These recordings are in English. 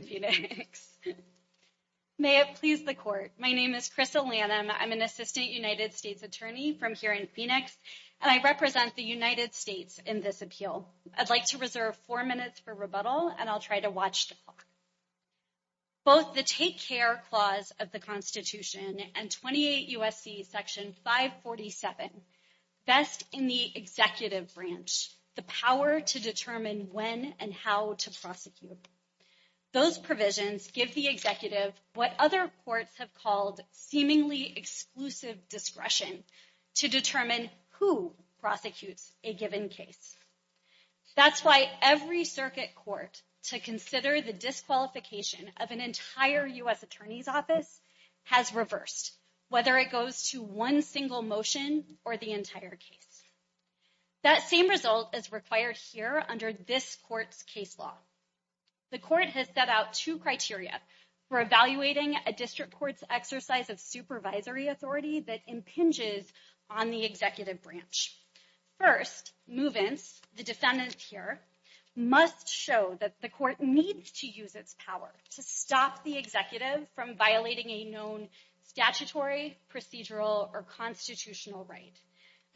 Phoenix. May it please the court. My name is Crystal Lanham. I'm an assistant United States attorney from here in Phoenix, and I represent the United States in this appeal. I'd like to reserve four minutes for rebuttal, and I'll try to watch the clock. Both the Take Care Clause of the Constitution and 28 U.S.C. Section 547 vest in the executive branch the power to determine when and how to prosecute. Those provisions give the executive what other courts have called seemingly exclusive discretion to determine who prosecutes a given case. That's why every circuit court to consider the disqualification of an entire U.S. attorney's office has reversed, whether it case law. The court has set out two criteria for evaluating a district court's exercise of supervisory authority that impinges on the executive branch. First, movements, the defendants here must show that the court needs to use its power to stop the executive from violating a known statutory procedural or constitutional right.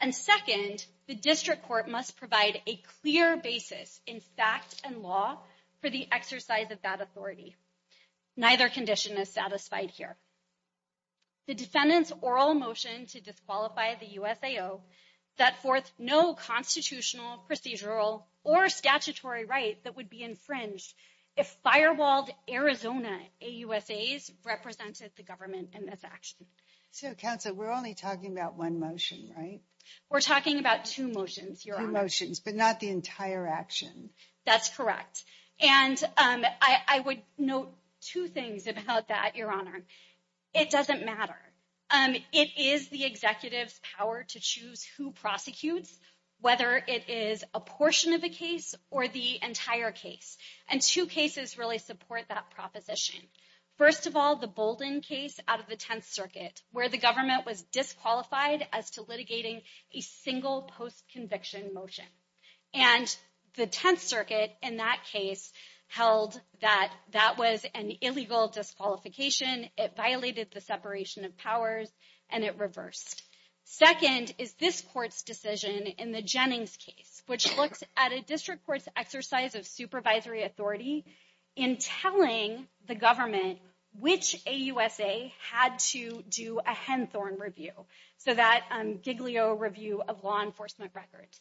And second, the district court must provide a clear basis in fact and law for the exercise of that authority. Neither condition is satisfied here. The defendant's oral motion to disqualify the USAO set forth no constitutional procedural or statutory right that would be infringed if firewalled Arizona AUSAs represented the government in this action. So counsel, we're only talking about one motion, right? We're talking about two motions, your motions, but not the entire action. That's correct. And I would note two things about that, your honor. It doesn't matter. It is the executive's power to choose who prosecutes, whether it is a portion of a case or the entire case. And two cases really support that proposition. First of all, the Bolden case out of the 10th circuit, where the government was disqualified as to litigating a single post-conviction motion. And the 10th circuit in that case held that that was an illegal disqualification. It violated the separation of powers and it reversed. Second is this court's decision in the Jennings case, which looks at a district court's of supervisory authority in telling the government which AUSA had to do a Henthorne review. So that Giglio review of law enforcement records.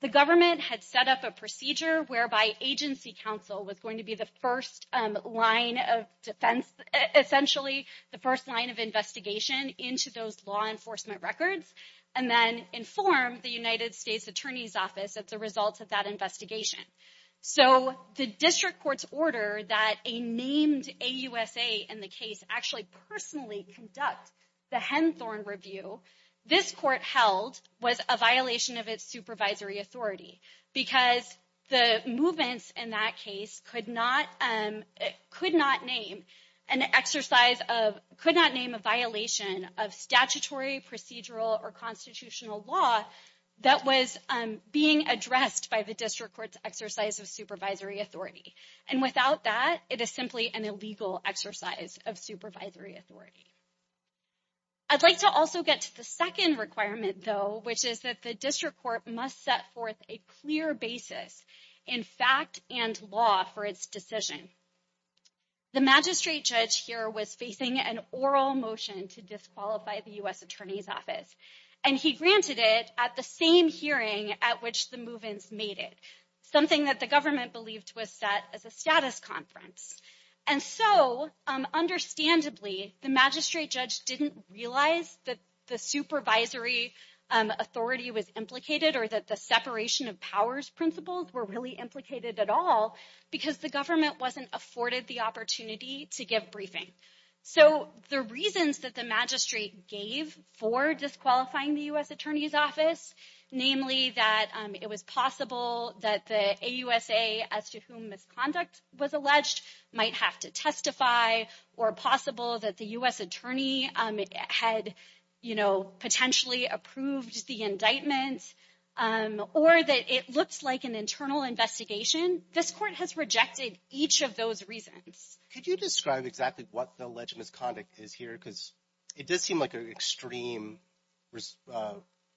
The government had set up a procedure whereby agency counsel was going to be the first line of defense, essentially the first line of investigation into those law enforcement records, and then inform the United States Attorney's So the district court's order that a named AUSA in the case actually personally conduct the Henthorne review, this court held was a violation of its supervisory authority because the movements in that case could not name an exercise of, could not name a violation of statutory procedural or constitutional law that was being addressed by the district court's of supervisory authority. And without that, it is simply an illegal exercise of supervisory authority. I'd like to also get to the second requirement though, which is that the district court must set forth a clear basis in fact and law for its decision. The magistrate judge here was facing an oral motion to disqualify the U.S. Attorney's office. And he granted it at the same at which the movements made it. Something that the government believed was set as a status conference. And so understandably, the magistrate judge didn't realize that the supervisory authority was implicated or that the separation of powers principles were really implicated at all because the government wasn't afforded the opportunity to give briefing. So the reasons that the magistrate gave for disqualifying the U.S. Attorney's office, namely that it was possible that the AUSA as to whom misconduct was alleged might have to testify or possible that the U.S. Attorney had potentially approved the indictments or that it looks like an internal investigation, this court has rejected each of those reasons. Could you describe exactly what the alleged misconduct is here? Because it does seem like an extreme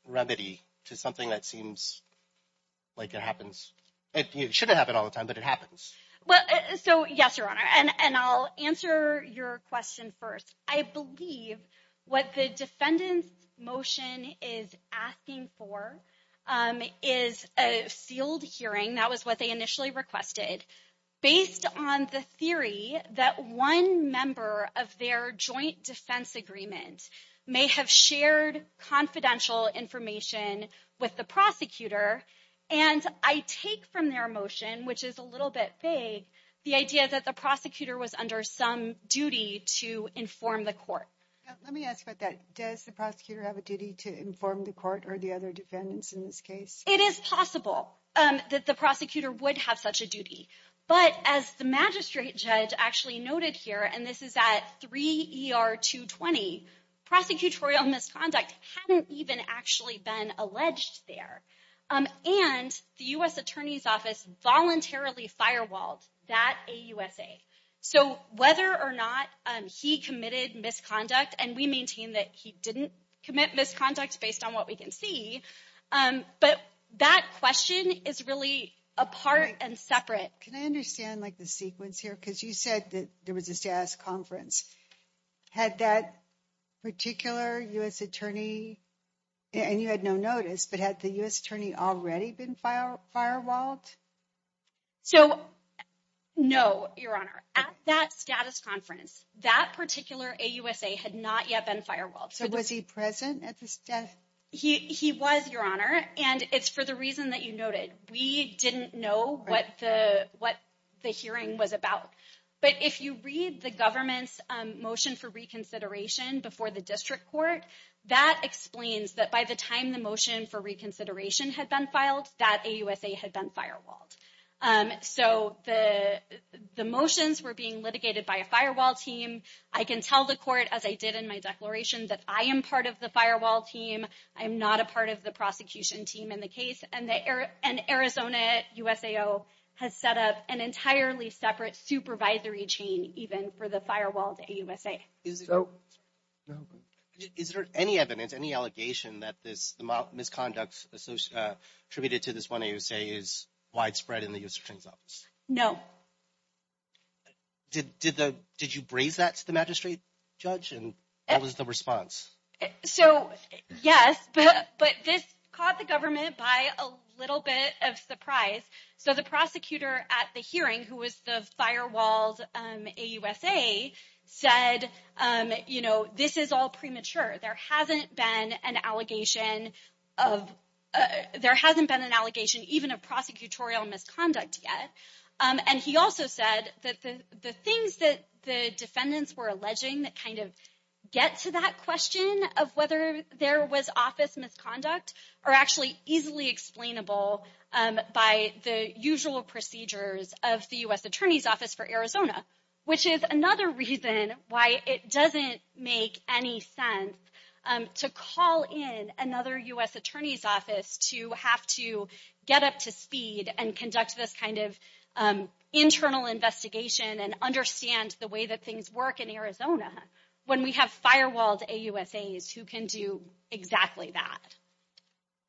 remedy to something that seems like it happens. It shouldn't happen all the time, but it happens. Well, so yes, Your Honor. And I'll answer your question first. I believe what the defendant's motion is asking for is a sealed hearing. That was what they initially requested. Based on the theory that one member of their joint defense agreement may have shared confidential information with the prosecutor. And I take from their motion, which is a little bit vague, the idea that the prosecutor was under some duty to inform the court. Let me ask about that. Does the prosecutor have a duty to inform the court or the other defendants in this case? It is possible that the prosecutor would have such a duty. But as the magistrate judge actually noted here, and this is at 3 ER 220, prosecutorial misconduct hadn't even actually been alleged there. And the U.S. Attorney's Office voluntarily firewalled that AUSA. So whether or not he committed misconduct, and we maintain that he didn't commit misconduct based on what we can see. But that question is really a part and separate. Can I understand like the sequence here? Because you said that there was a status conference. Had that particular U.S. Attorney, and you had no notice, but had the U.S. Attorney already been firewalled? So no, Your Honor. At that status conference, that particular AUSA had not yet been firewalled. So was he present at this desk? He was, Your Honor. And it's for the reason that you noted. We didn't know what the hearing was about. But if you read the government's motion for reconsideration before the district court, that explains that by the time the motion for reconsideration had been filed, that AUSA had been firewalled. So the motions were being litigated by a firewall team. I can tell the court, as I did in my declaration, that I am part of the firewall team. I am not a part of the prosecution team in the case. And Arizona USAO has set up an entirely separate supervisory chain even for the firewalled AUSA. Is there any evidence, any allegation that this misconduct attributed to this one AUSA is widespread in the U.S. Attorney's Office? No. Did you braze that to the magistrate judge? And what was the response? So, yes. But this caught the government by a little bit of surprise. So the prosecutor at the hearing, who was the firewalled AUSA, said, you know, this is all premature. There hasn't been an allegation of, there hasn't been an allegation even of prosecutorial misconduct yet. And he also said that the things that the defendants were alleging that kind of get to that question of whether there was office misconduct are actually easily explainable by the usual procedures of the U.S. Attorney's Office for Arizona, which is another reason why it doesn't make any sense to call in another U.S. Attorney's Office to have to get up to speed and internal investigation and understand the way that things work in Arizona when we have firewalled AUSAs who can do exactly that.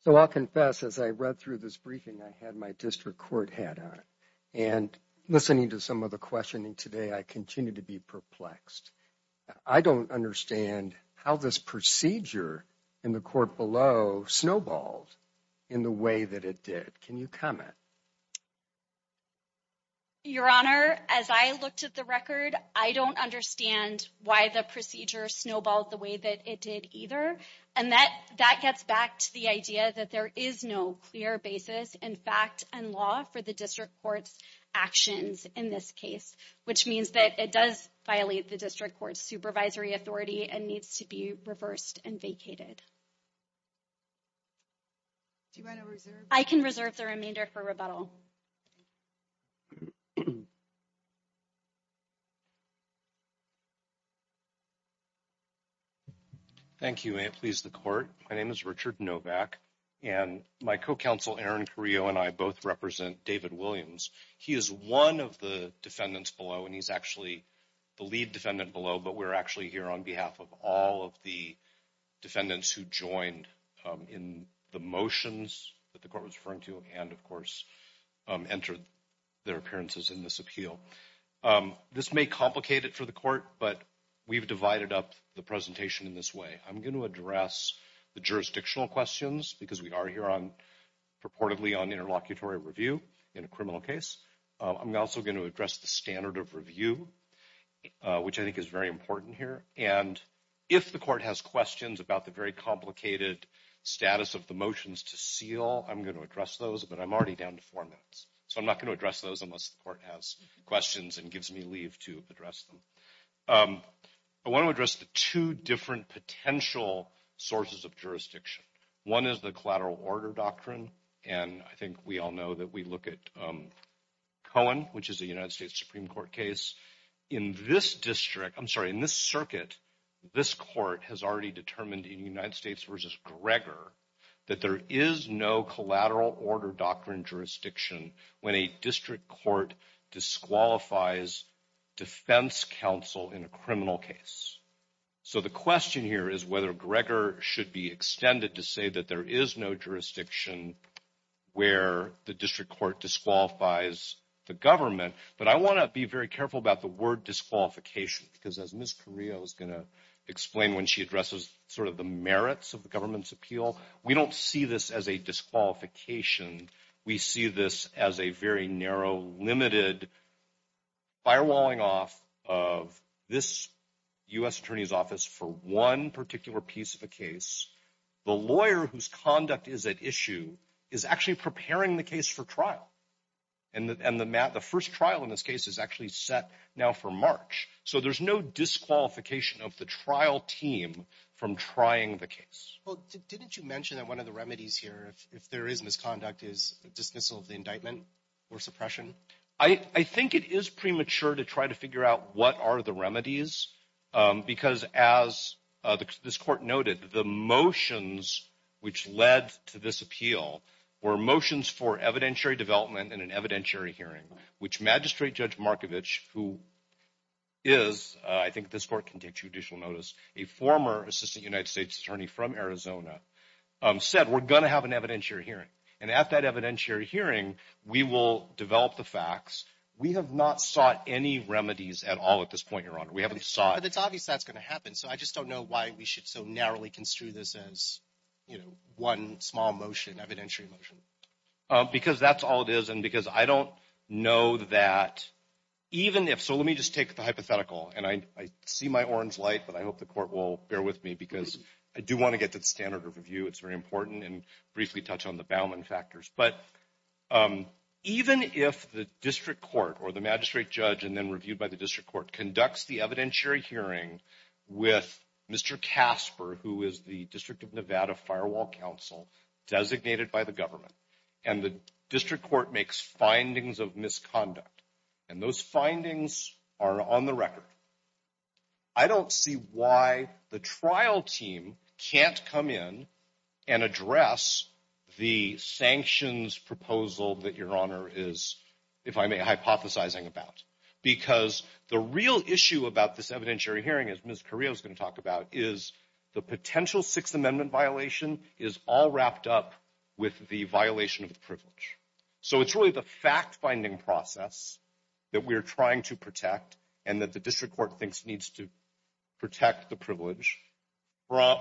So I'll confess, as I read through this briefing, I had my district court hat on. And listening to some of the questioning today, I continue to be perplexed. I don't understand how this procedure in the court below snowballed in the way that it did. Can you comment? Your Honor, as I looked at the record, I don't understand why the procedure snowballed the way that it did either. And that gets back to the idea that there is no clear basis in fact and law for the district court's actions in this case, which means that it does violate the district court's supervisory authority and needs to be reversed and vacated. Do you want to reserve it? I can reserve the remainder for rebuttal. Thank you. May it please the court. My name is Richard Novak, and my co-counsel, Aaron Carrillo, and I both represent David Williams. He is one of the defendants below, and he's actually the lead defendant below, but we're actually here on behalf of all of the defendants in the case. The defendants who joined in the motions that the court was referring to and, of course, entered their appearances in this appeal. This may complicate it for the court, but we've divided up the presentation in this way. I'm going to address the jurisdictional questions because we are here on, purportedly, on interlocutory review in a criminal case. I'm also going to address the standard of review, which I think is very important here. If the court has questions about the very complicated status of the motions to seal, I'm going to address those, but I'm already down to four minutes, so I'm not going to address those unless the court has questions and gives me leave to address them. I want to address the two different potential sources of jurisdiction. One is the collateral order doctrine, and I think we all know that we look at Cohen, which is a United States Supreme Court case. In this district, I'm sorry, in this circuit, this court has already determined in United States v. Gregor that there is no collateral order doctrine jurisdiction when a district court disqualifies defense counsel in a criminal case. So the question here is whether Gregor should be extended to say that there is no jurisdiction where the district court disqualifies the government, but I want to be very careful about the word disqualification, because as Ms. Carrillo is going to explain when she addresses sort of the merits of the government's appeal, we don't see this as a disqualification. We see this as a very narrow, limited firewalling off of this U.S. attorney's office for one particular piece of a case. The lawyer whose conduct is at issue is actually preparing the case for trial, and the first trial in this case is actually set now for March. So there's no disqualification of the trial team from trying the case. Well, didn't you mention that one of the remedies here, if there is misconduct, is dismissal of the indictment or suppression? I think it is premature to try to figure out what are the remedies, because as this court noted, the motions which led to this appeal were motions for evidentiary development and an evidentiary hearing, which Magistrate Judge Markovich, who is, I think this court can take judicial notice, a former assistant United States attorney from Arizona, said we're going to have an evidentiary hearing, and at that evidentiary hearing, we will develop the facts. We have not sought any remedies at all at this point, Your Honor. We haven't sought. But it's obvious that's going to happen, so I just don't know why we should so narrowly construe this as, you know, one small motion, evidentiary motion. Because that's all it is, and because I don't know that even if, so let me just take the hypothetical, and I see my orange light, but I hope the court will bear with me, because I do want to get to the standard of review. It's very important, and briefly touch on the Bauman factors. But even if the district court or the magistrate judge, and then reviewed by the district court, conducts the evidentiary hearing with Mr. Casper, who is the District of Nevada Firewall Counsel, designated by the government, and the district court makes findings of misconduct, and those findings are on the record, I don't see why the trial team can't come in and address the sanctions proposal that Your Honor is, if I may, hypothesizing about. Because the real issue about this evidentiary hearing, as Ms. Carrillo is going to talk about, is the potential Sixth Amendment violation is all wrapped up with the violation of the privilege. So it's really the fact-finding process that we're trying to protect, and that the district court thinks needs to protect the privilege,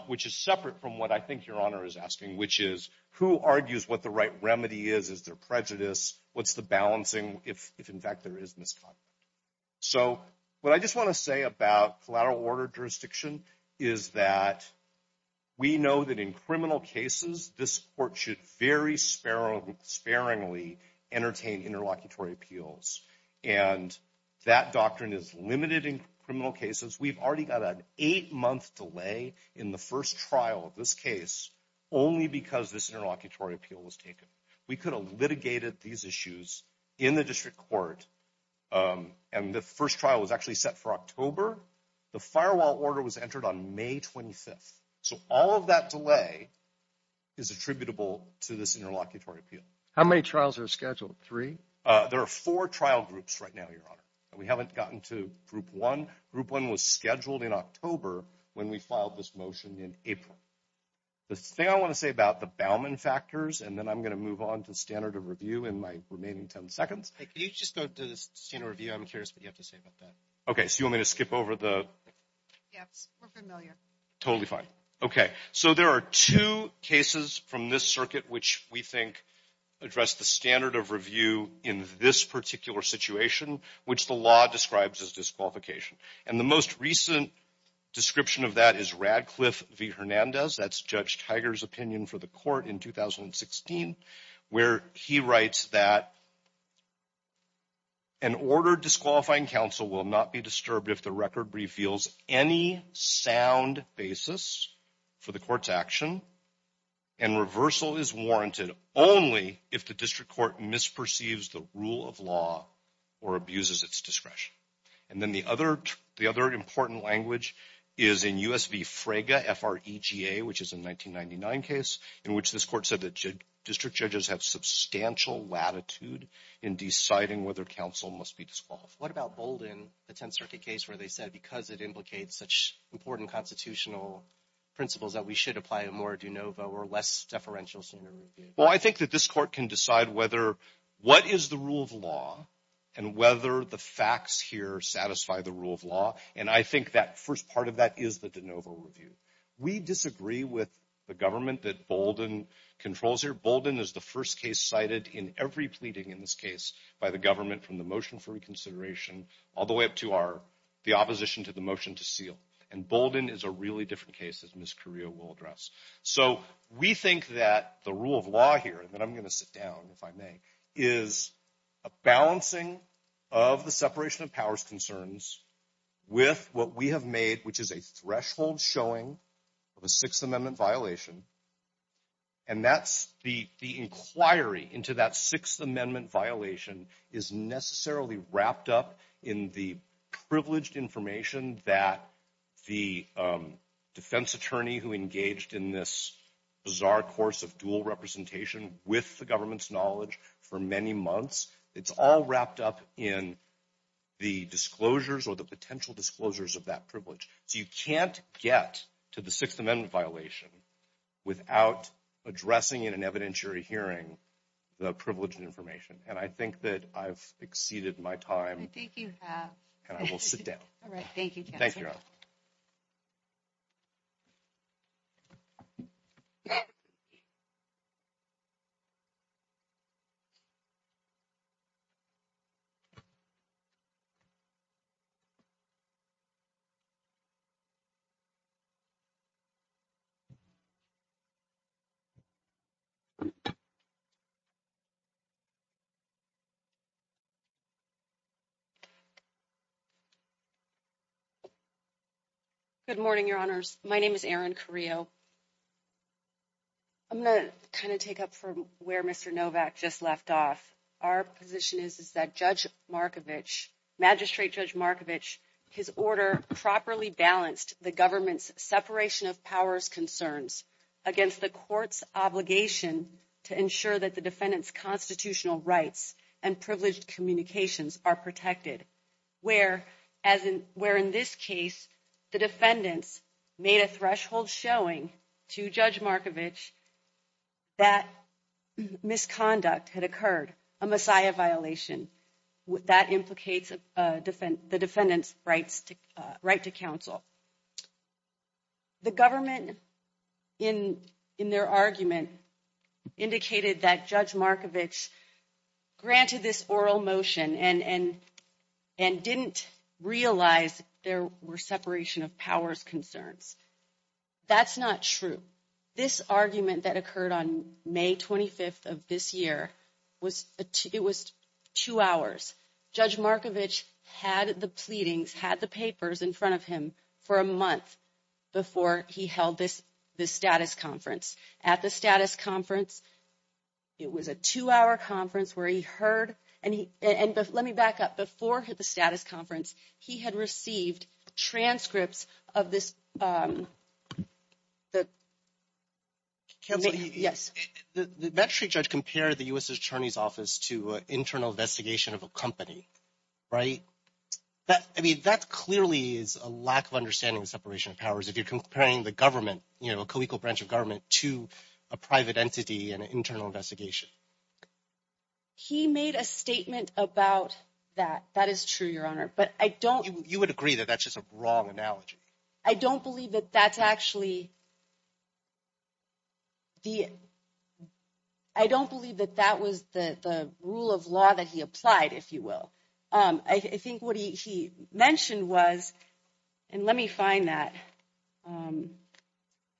which is separate from what I think Your Honor is asking, which is, who argues what the right remedy is? Is there prejudice? What's the balancing, if in fact there is misconduct? So what I just want to say about collateral order jurisdiction is that we know that in criminal cases, this court should very sparingly entertain interlocutory appeals, and that doctrine is limited in criminal cases. We've already got an eight-month delay in the first trial of this case, only because this interlocutory appeal was taken. We could have litigated these issues in the district court, and the first trial was actually set for October. The firewall order was entered on May 25th. So all of that delay is attributable to this interlocutory appeal. How many trials are scheduled? Three? There are four trial groups right now, Your Honor. We haven't gotten to Group 1. Group 1 was scheduled in October when we filed this motion in April. The thing I want to say about the Bauman factors, and then I'm going to move on to standard of review in my remaining 10 seconds. Hey, can you just go to the standard of review? I'm curious what you have to say about that. Okay, so you want me to skip over the... Yes, we're familiar. Totally fine. Okay, so there are two cases from this circuit which we think address the standard of review in this particular situation, which the law describes as disqualification. And the most recent description of that is Radcliffe v. Hernandez. That's Judge Tiger's opinion for the court in 2016, where he writes that an ordered disqualifying counsel will not be disturbed if the record reveals any sound basis for the court's action, and reversal is warranted only if the district court misperceives the rule of law or abuses its discretion. And then the other important language is in U.S. v. Fraga, F-R-E-G-A, which is a 1999 case, in which this court said that district judges have substantial latitude in deciding whether counsel must be disqualified. What about Bolden, the 10th Circuit case, where they said because it implicates such important constitutional principles that we should apply a more de novo or less deferential standard of review? Well, I think that this court can decide what is the rule of law and whether the facts here satisfy the rule of law. And I think that first part of that is the de novo review. We disagree with the government that Bolden controls here. Bolden is the first case cited in every pleading in this case by the government from the motion for reconsideration all the way up to the opposition to the motion to seal. And Bolden is a really different case, as Ms. Carrillo will address. So we think that the rule of law here, and then I'm going to sit down if I may, is a balancing of the separation of powers concerns with what we have made, which is a threshold showing of a Sixth Amendment violation. And that's the inquiry into that Sixth Amendment violation is necessarily wrapped up in the privileged information that the defense attorney who engaged in this bizarre course of dual representation with the government's knowledge for many months, it's all wrapped up in the disclosures or the potential disclosures of that privilege. So you can't get to the Sixth Amendment violation without addressing in an evidentiary hearing the privileged information. And I think that I've exceeded my time. I think you have. And I will sit down. All right, thank you, counsel. Thank you. Good morning, your honors. My name is Erin Carrillo. I'm going to kind of take up from where Mr. Novak just left off. Our position is that Judge Markovich, Magistrate Judge Markovich, his order properly balanced the government's separation of powers concerns against the court's obligation to ensure that the defendant's constitutional rights and privileged communications are protected. Where in this case, the defendants made a threshold showing to Judge Markovich that misconduct had occurred, a Messiah violation that implicates the defendant's right to counsel. The government in their argument indicated that Judge Markovich granted this oral motion and didn't realize there were separation of powers concerns. That's not true. This argument that occurred on May 25th of this year, it was two hours. Judge Markovich had the pleadings, had the papers in front of him for a month before he held this status conference. At the status conference, it was a two-hour conference where he heard, and let me back up, before the status conference, he had received transcripts of this. Counsel, the Magistrate Judge compared the U.S. Attorney's Office to internal investigation of a company, right? I mean, that clearly is a lack of understanding of separation of powers. If you're comparing the government, you know, a co-equal branch of government to a private entity and an internal investigation. He made a statement about that. That is true, Your Honor, but I don't... You would agree that that's just a wrong analogy. I don't believe that that's actually... I don't believe that that was the rule of law that he applied, if you will. I think what he mentioned was, and let me find that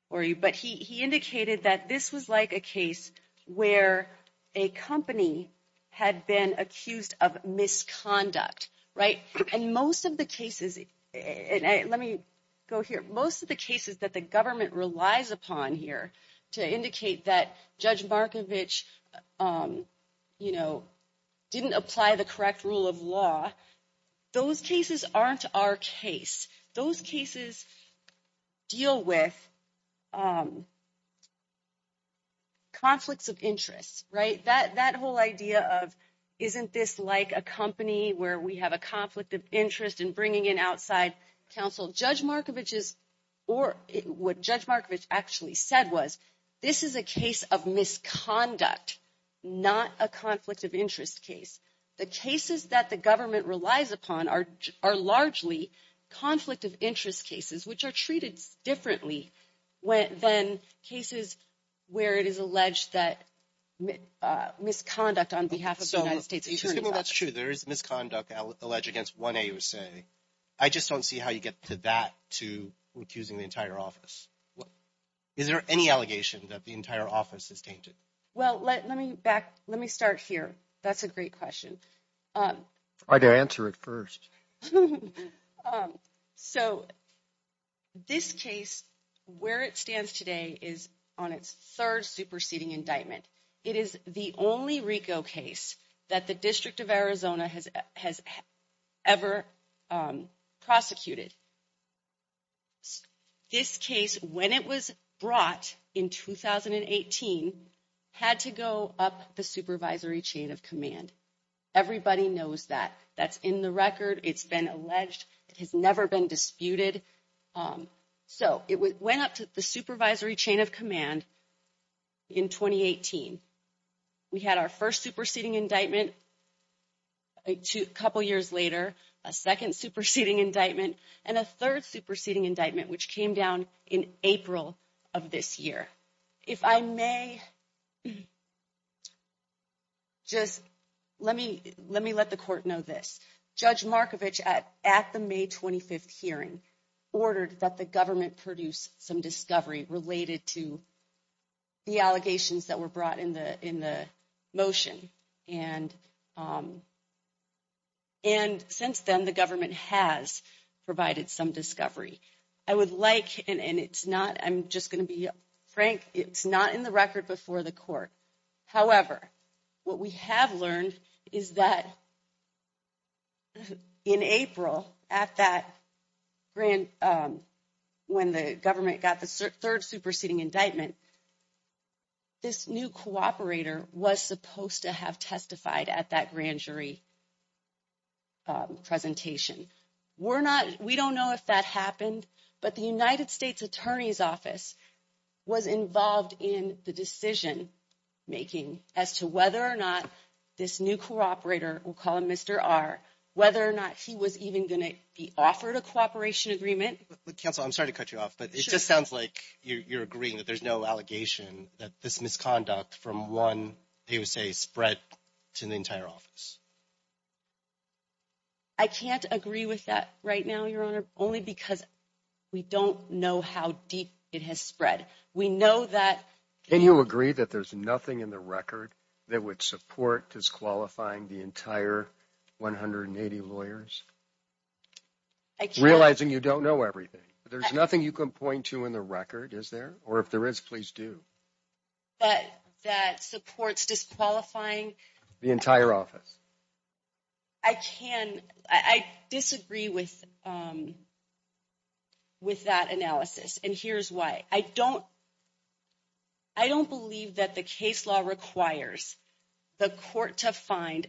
for you, but he indicated that this was like a case where a company had been accused of misconduct, right? And most of the cases... Let me go here. Most of the cases that the government relies upon here to indicate that Judge Markovich, you know, didn't apply the correct rule of law, those cases aren't our case. Those cases deal with conflicts of interest, right? That whole idea of, isn't this like a company where we have a conflict of interest in bringing in outside counsel? Judge Markovich's... Or what Judge Markovich actually said was, this is a case of misconduct, not a conflict of interest case. The cases that the government relies upon are largely conflict of interest cases, which are treated differently than cases where it is alleged that misconduct on behalf of the United States... So, excuse me, that's true. There is misconduct alleged against 1A USA. I just don't see how you get to that, to accusing the entire office. Is there any allegation that the entire office is tainted? Well, let me start here. That's a great question. Try to answer it first. So, this case, where it stands today is on its third superseding indictment. It is the only RICO case that the District of Arizona has ever prosecuted. This case, when it was brought in 2018, had to go up the supervisory chain of command. Everybody knows that. That's in the record. It's been alleged. It has never been disputed. So, it went up to the supervisory chain of command in 2018. We had our first superseding indictment a couple years later, a second superseding indictment, and a third superseding indictment, which came down in April of this year. If I may, just let me let the court know this. Judge Markovich, at the May 25th hearing, ordered that the government produce some discovery related to the allegations that were brought in the motion. And since then, the government has provided some discovery. I would like, and it's not, I'm just going to be frank, it's not in the record before the court. However, what we have learned is that in April, when the government got the third superseding indictment, this new cooperator was supposed to have testified at that grand jury presentation. We don't know if that happened, but the United States Attorney's Office was involved in the decision making as to whether or not this new cooperator, we'll call him Mr. R, whether or not he was even going to be offered a cooperation agreement. But counsel, I'm sorry to cut you off, but it just sounds like you're agreeing that there's no allegation that this misconduct from one USA spread to the entire office. I can't agree with that right now, Your Honor, only because we don't know how deep it has spread. We know that- Can you agree that there's nothing in the record that would support disqualifying the entire 180 lawyers? Realizing you don't know everything. There's nothing you can point to in the record, is there? Or if there is, please do. But that supports disqualifying- The entire office. I disagree with that analysis, and here's why. I don't believe that the case law requires the court to find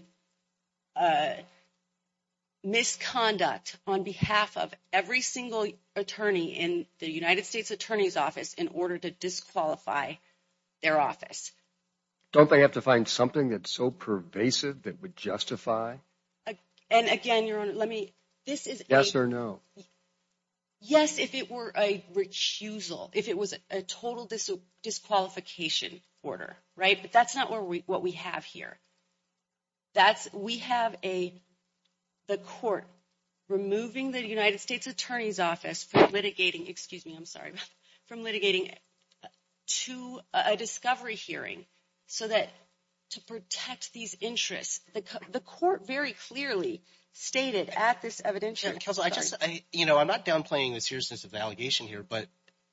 misconduct on behalf of every single attorney in the United States Attorney's Office in order to disqualify their office. Don't they have to find something that's so pervasive that would justify- And again, Your Honor, let me- This is a- Yes or no. Yes, if it were a recusal, if it was a total disqualification order, right? But that's not what we have here. We have the court removing the United States Attorney's Office from litigating, excuse me, I'm sorry, from litigating to a discovery hearing so that to protect these interests. The court very clearly stated at this evidentiary- Judge Kelso, I just, you know, I'm not downplaying the seriousness of the allegation here, but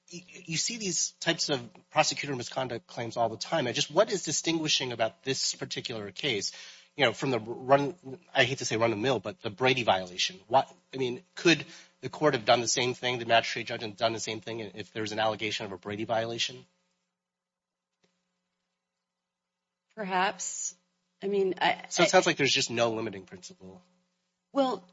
you see these types of prosecutor misconduct claims all the time. I just, what is distinguishing about this particular case, you know, from the run, I hate to say run the mill, but the Brady violation, what, I mean, could the court have done the same thing, the magistrate judge had done the same thing if there's an allegation of a Brady violation? Perhaps, I mean- So it sounds like there's just no limiting principle. Well,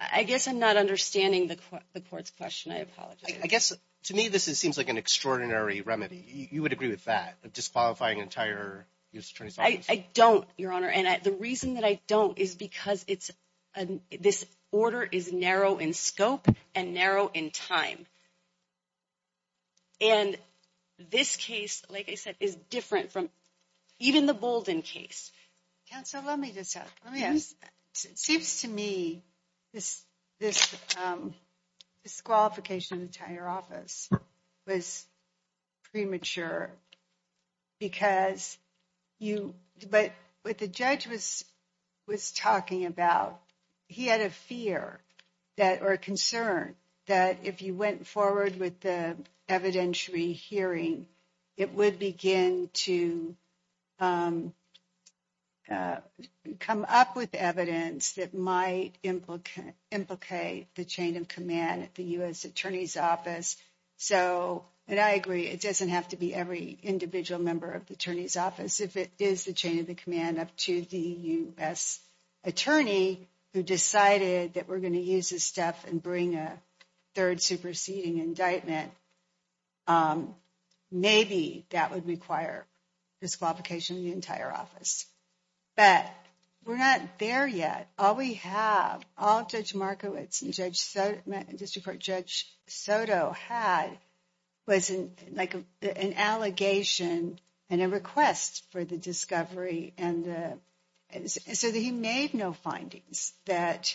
I guess I'm not understanding the court's question, I apologize. I guess to me, this seems like an extraordinary remedy. You would agree with that, disqualifying an entire U.S. Attorney's Office? I don't, Your Honor, and the reason that I don't is because it's, this order is narrow in scope and narrow in time. And this case, like I said, is different from even the Bolden case. Counsel, let me just, let me ask, it seems to me this disqualification of the entire office was premature because you, but what the judge was talking about, he had a fear that, or a concern that if you went forward with the evidentiary hearing, it would begin to come up with evidence that might implicate the chain of command at the U.S. Attorney's Office. So, and I agree, it doesn't have to be every individual member of the Attorney's Office, if it is the chain of command up to the U.S. Attorney who decided that we're going to use this stuff and bring a third superseding indictment, maybe that would require disqualification of the entire office. But we're not there yet. All we have, all Judge Markowitz and District Court Judge Soto had was like an allegation and a request for the discovery and the, so that he made no findings that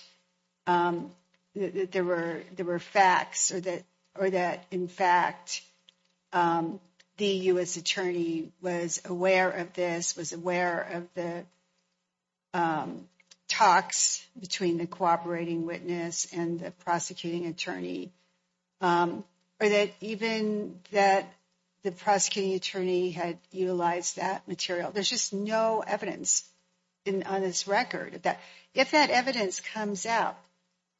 there were facts or that in fact, the U.S. Attorney was aware of this, was aware of the talks between the cooperating witness and the prosecuting attorney, or that even that the prosecuting attorney had utilized that material. There's just no evidence on this record if that evidence comes out,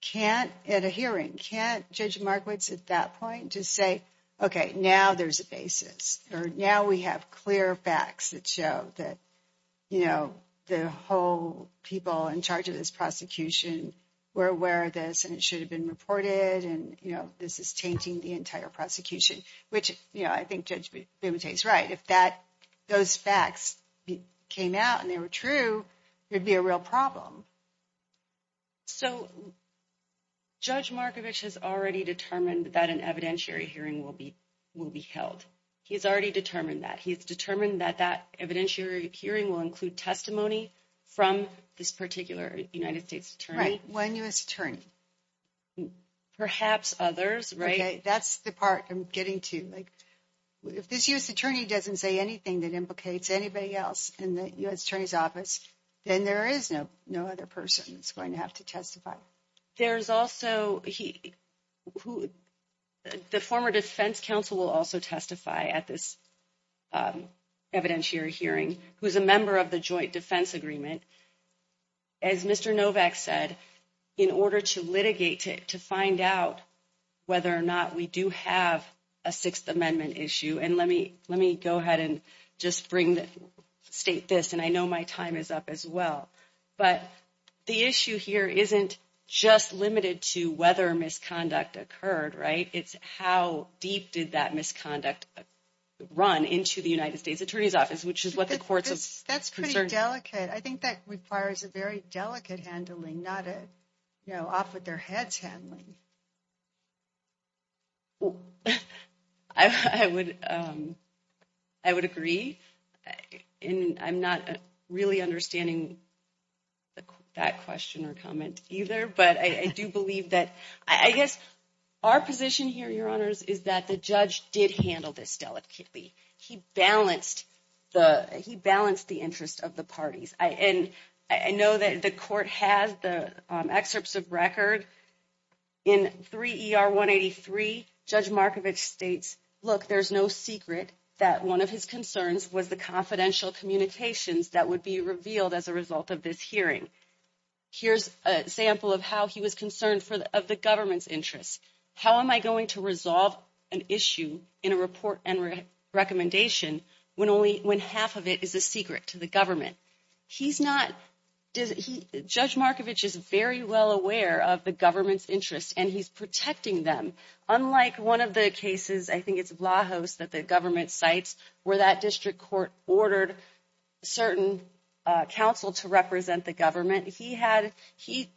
can't at a hearing, can't Judge Markowitz at that point to say, okay, now there's a basis or now we have clear facts that show that, you know, the whole people in charge of this prosecution were aware of this and it should have been reported. And, you know, this is tainting the entire prosecution, which, you know, I think Judge Bumate is right. If that, those facts came out and they were true, it'd be a real problem. So Judge Markowitz has already determined that an evidentiary hearing will be held. He's already determined that. He's determined that that evidentiary hearing will include testimony from this particular United States Attorney. Right, one U.S. Attorney. Perhaps others, right? Okay, that's the part I'm getting to, like if this U.S. Attorney doesn't say anything that implicates anybody else in the U.S. Attorney's office, then there is no other person that's going to have to testify. There's also, the former defense counsel will also testify at this evidentiary hearing, who's a member of the joint defense agreement. As Mr. Novak said, in order to litigate, to find out whether or not we do have a Sixth Amendment issue, and let me go ahead and just state this, and I know my time is up as well, but the issue here isn't just limited to whether misconduct occurred, right? It's how deep did that misconduct run into the United States Attorney's office, which is what the court's concern. That's pretty delicate. I think that requires a very delicate handling, not a, you know, off with their heads handling. I would agree. And I'm not really understanding that question or comment either, but I do believe that, I guess, our position here, Your Honors, is that the judge did handle this delicately. He balanced the interest of the parties. And I know that the court has the excerpts of record. In 3 ER 183, Judge Markovich states, look, there's no secret that one of his concerns was the confidential communications that would be revealed as a result of this hearing. Here's a sample of how he was concerned of the government's interests. How am I going to resolve an issue in a report and recommendation when half of it is a secret to the government? He's not, Judge Markovich is very well aware of the government's interests, and he's protecting them. Unlike one of the cases, I think it's Vlahos that the government cites, where that district court ordered certain counsel to represent the government, he had, he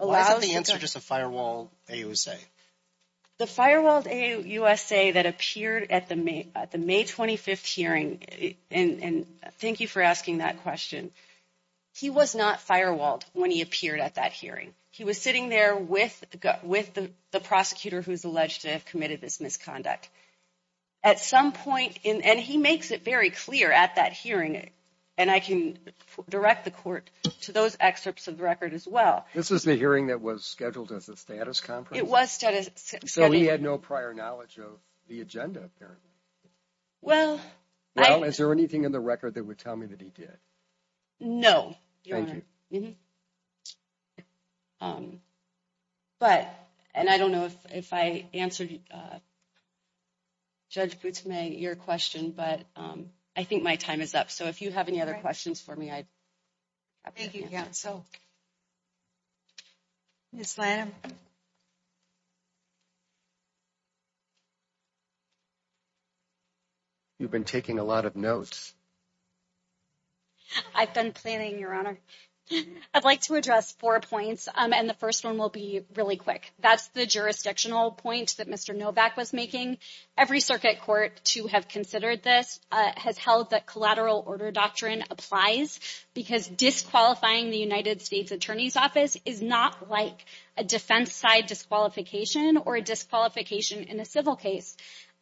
allows- Why is the answer just a firewalled AUSA? The firewalled AUSA that appeared at the May 25th hearing, and thank you for asking that question. He was not firewalled when he appeared at that hearing. He was sitting there with the prosecutor who's alleged to have committed this misconduct. At some point in, and he makes it very clear at that hearing, and I can direct the court to those excerpts of the record as well. This is the hearing that was scheduled as a status conference? It was status- So he had no prior knowledge of the agenda there? Well, I- Well, is there anything in the record that would tell me that he did? No, Your Honor. Thank you. But, and I don't know if I answered Judge Boutimey, your question, but I think my time is up. So if you have any other questions for me, I- Thank you again. Ms. Lanham? You've been taking a lot of notes. I've been planning, Your Honor. I'd like to address four points, and the first one will be really quick. That's the jurisdictional point that Mr. Novak was making. Every circuit court to have considered this has held that collateral order doctrine applies because disqualifying the United States Attorney's Office is not like a defense side disqualification or a disqualification in a civil case.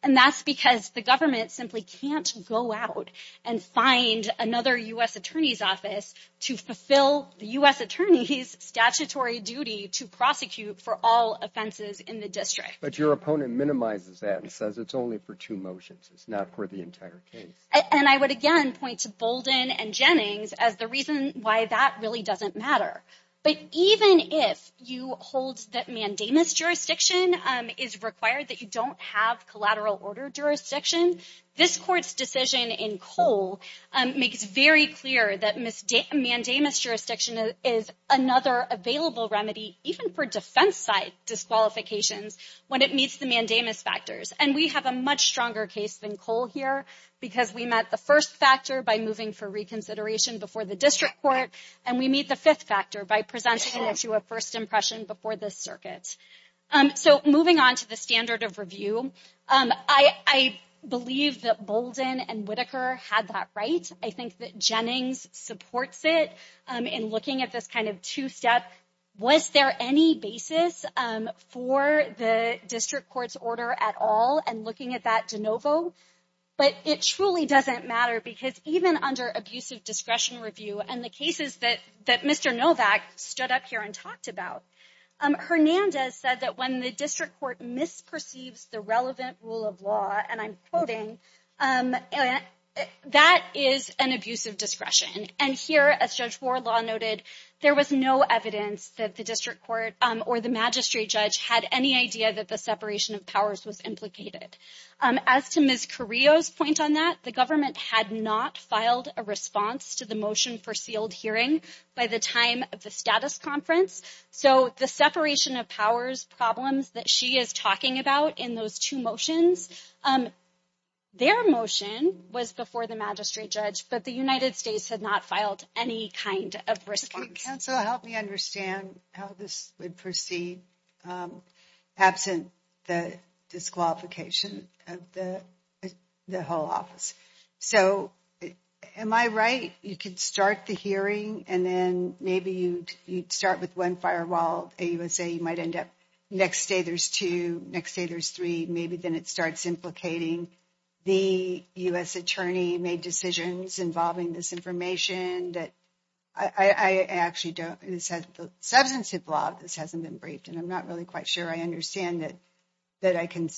And that's because the government simply can't go out and find another U.S. Attorney's Office to fulfill the U.S. Attorney's statutory duty to prosecute for all offenses in the district. But your opponent minimizes that and says it's only for two motions. It's not for the entire case. And I would again point to Bolden and Jennings as the reason why that really doesn't matter. But even if you hold that mandamus jurisdiction collateral order jurisdiction, this court's decision in Cole makes very clear that mandamus jurisdiction is another available remedy even for defense side disqualifications when it meets the mandamus factors. And we have a much stronger case than Cole here because we met the first factor by moving for reconsideration before the district court, and we meet the fifth factor by presenting it to a first impression before the circuit. So moving on to the standard of review, I believe that Bolden and Whitaker had that right. I think that Jennings supports it in looking at this kind of two-step. Was there any basis for the district court's order at all and looking at that de novo? But it truly doesn't matter because even under abusive discretion review and the cases that Mr. Novak stood up here and talked about, Hernandez said that when the district court misperceives the relevant rule of law, and I'm quoting, that is an abusive discretion. And here, as Judge Wardlaw noted, there was no evidence that the district court or the magistrate judge had any idea that the separation of powers was implicated. As to Ms. Carrillo's point on that, the government had not filed a response to the motion for sealed hearing by the time of the status conference. So the separation of powers problems that she is talking about in those two motions, their motion was before the magistrate judge, but the United States had not filed any kind of response. Counsel, help me understand how this would proceed absent the disqualification of the whole office. So am I right? You could start the hearing and then maybe you'd start with one firewall, and you would say you might end up, next day there's two, next day there's three, maybe then it starts implicating the U.S. attorney made decisions involving this information that I actually don't. It says the substantive law of this hasn't been briefed and I'm not really quite sure I understand that I can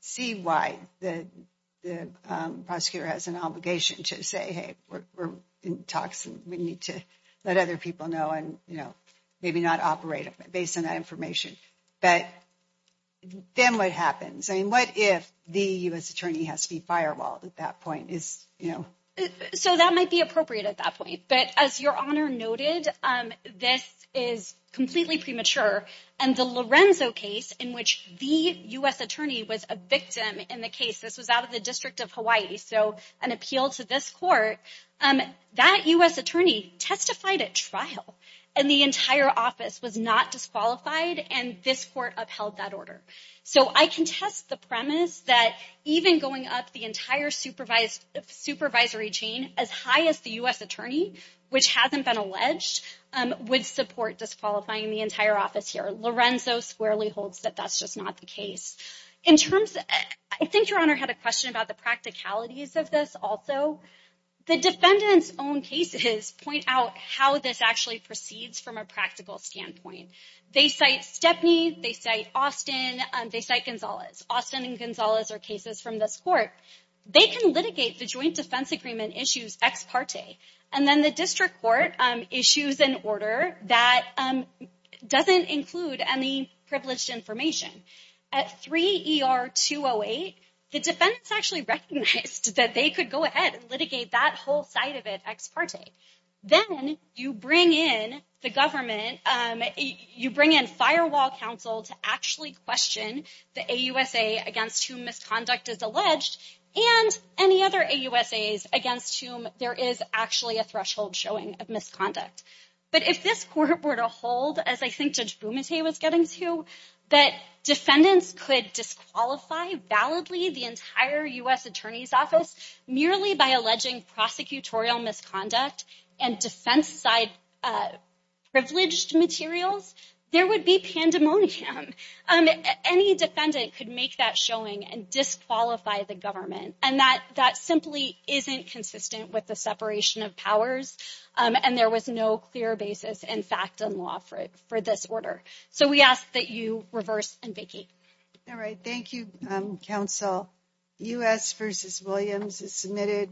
see why the prosecutor has an obligation to say, hey, we're in talks and we need to let other people know maybe not operate based on that information. But then what happens? I mean, what if the U.S. attorney has to be firewalled at that point? So that might be appropriate at that point. But as your honor noted, this is completely premature. And the Lorenzo case in which the U.S. attorney was a victim in the case, this was out of the district of Hawaii. So an appeal to this court, that U.S. attorney testified at trial. And the entire office was not disqualified and this court upheld that order. So I can test the premise that even going up the entire supervisory chain as high as the U.S. attorney, which hasn't been alleged, would support disqualifying the entire office here. Lorenzo squarely holds that that's just not the case. In terms of, I think your honor had a question about the practicalities of this also. The defendant's own cases point out how this actually proceeds from a practical standpoint. They cite Stepney, they cite Austin, they cite Gonzalez. Austin and Gonzalez are cases from this court. They can litigate the joint defense agreement issues ex parte. And then the district court issues an order that doesn't include any privileged information. At 3 ER 208, the defendants actually recognized that they could go ahead and litigate that whole side of it ex parte. Then you bring in the government, you bring in firewall counsel to actually question the AUSA against whom misconduct is alleged and any other AUSAs against whom there is actually a threshold showing of misconduct. But if this court were to hold, as I think Judge Bumate was getting to, that defendants could disqualify validly the entire U.S. attorney's office merely by alleging prosecutorial misconduct and defense side privileged materials, there would be pandemonium. Any defendant could make that showing and disqualify the government. And that simply isn't consistent with the separation of powers. And there was no clear basis in fact in law for this order. So we ask that you reverse and vacate. All right, thank you, counsel. U.S. versus Williams is submitted.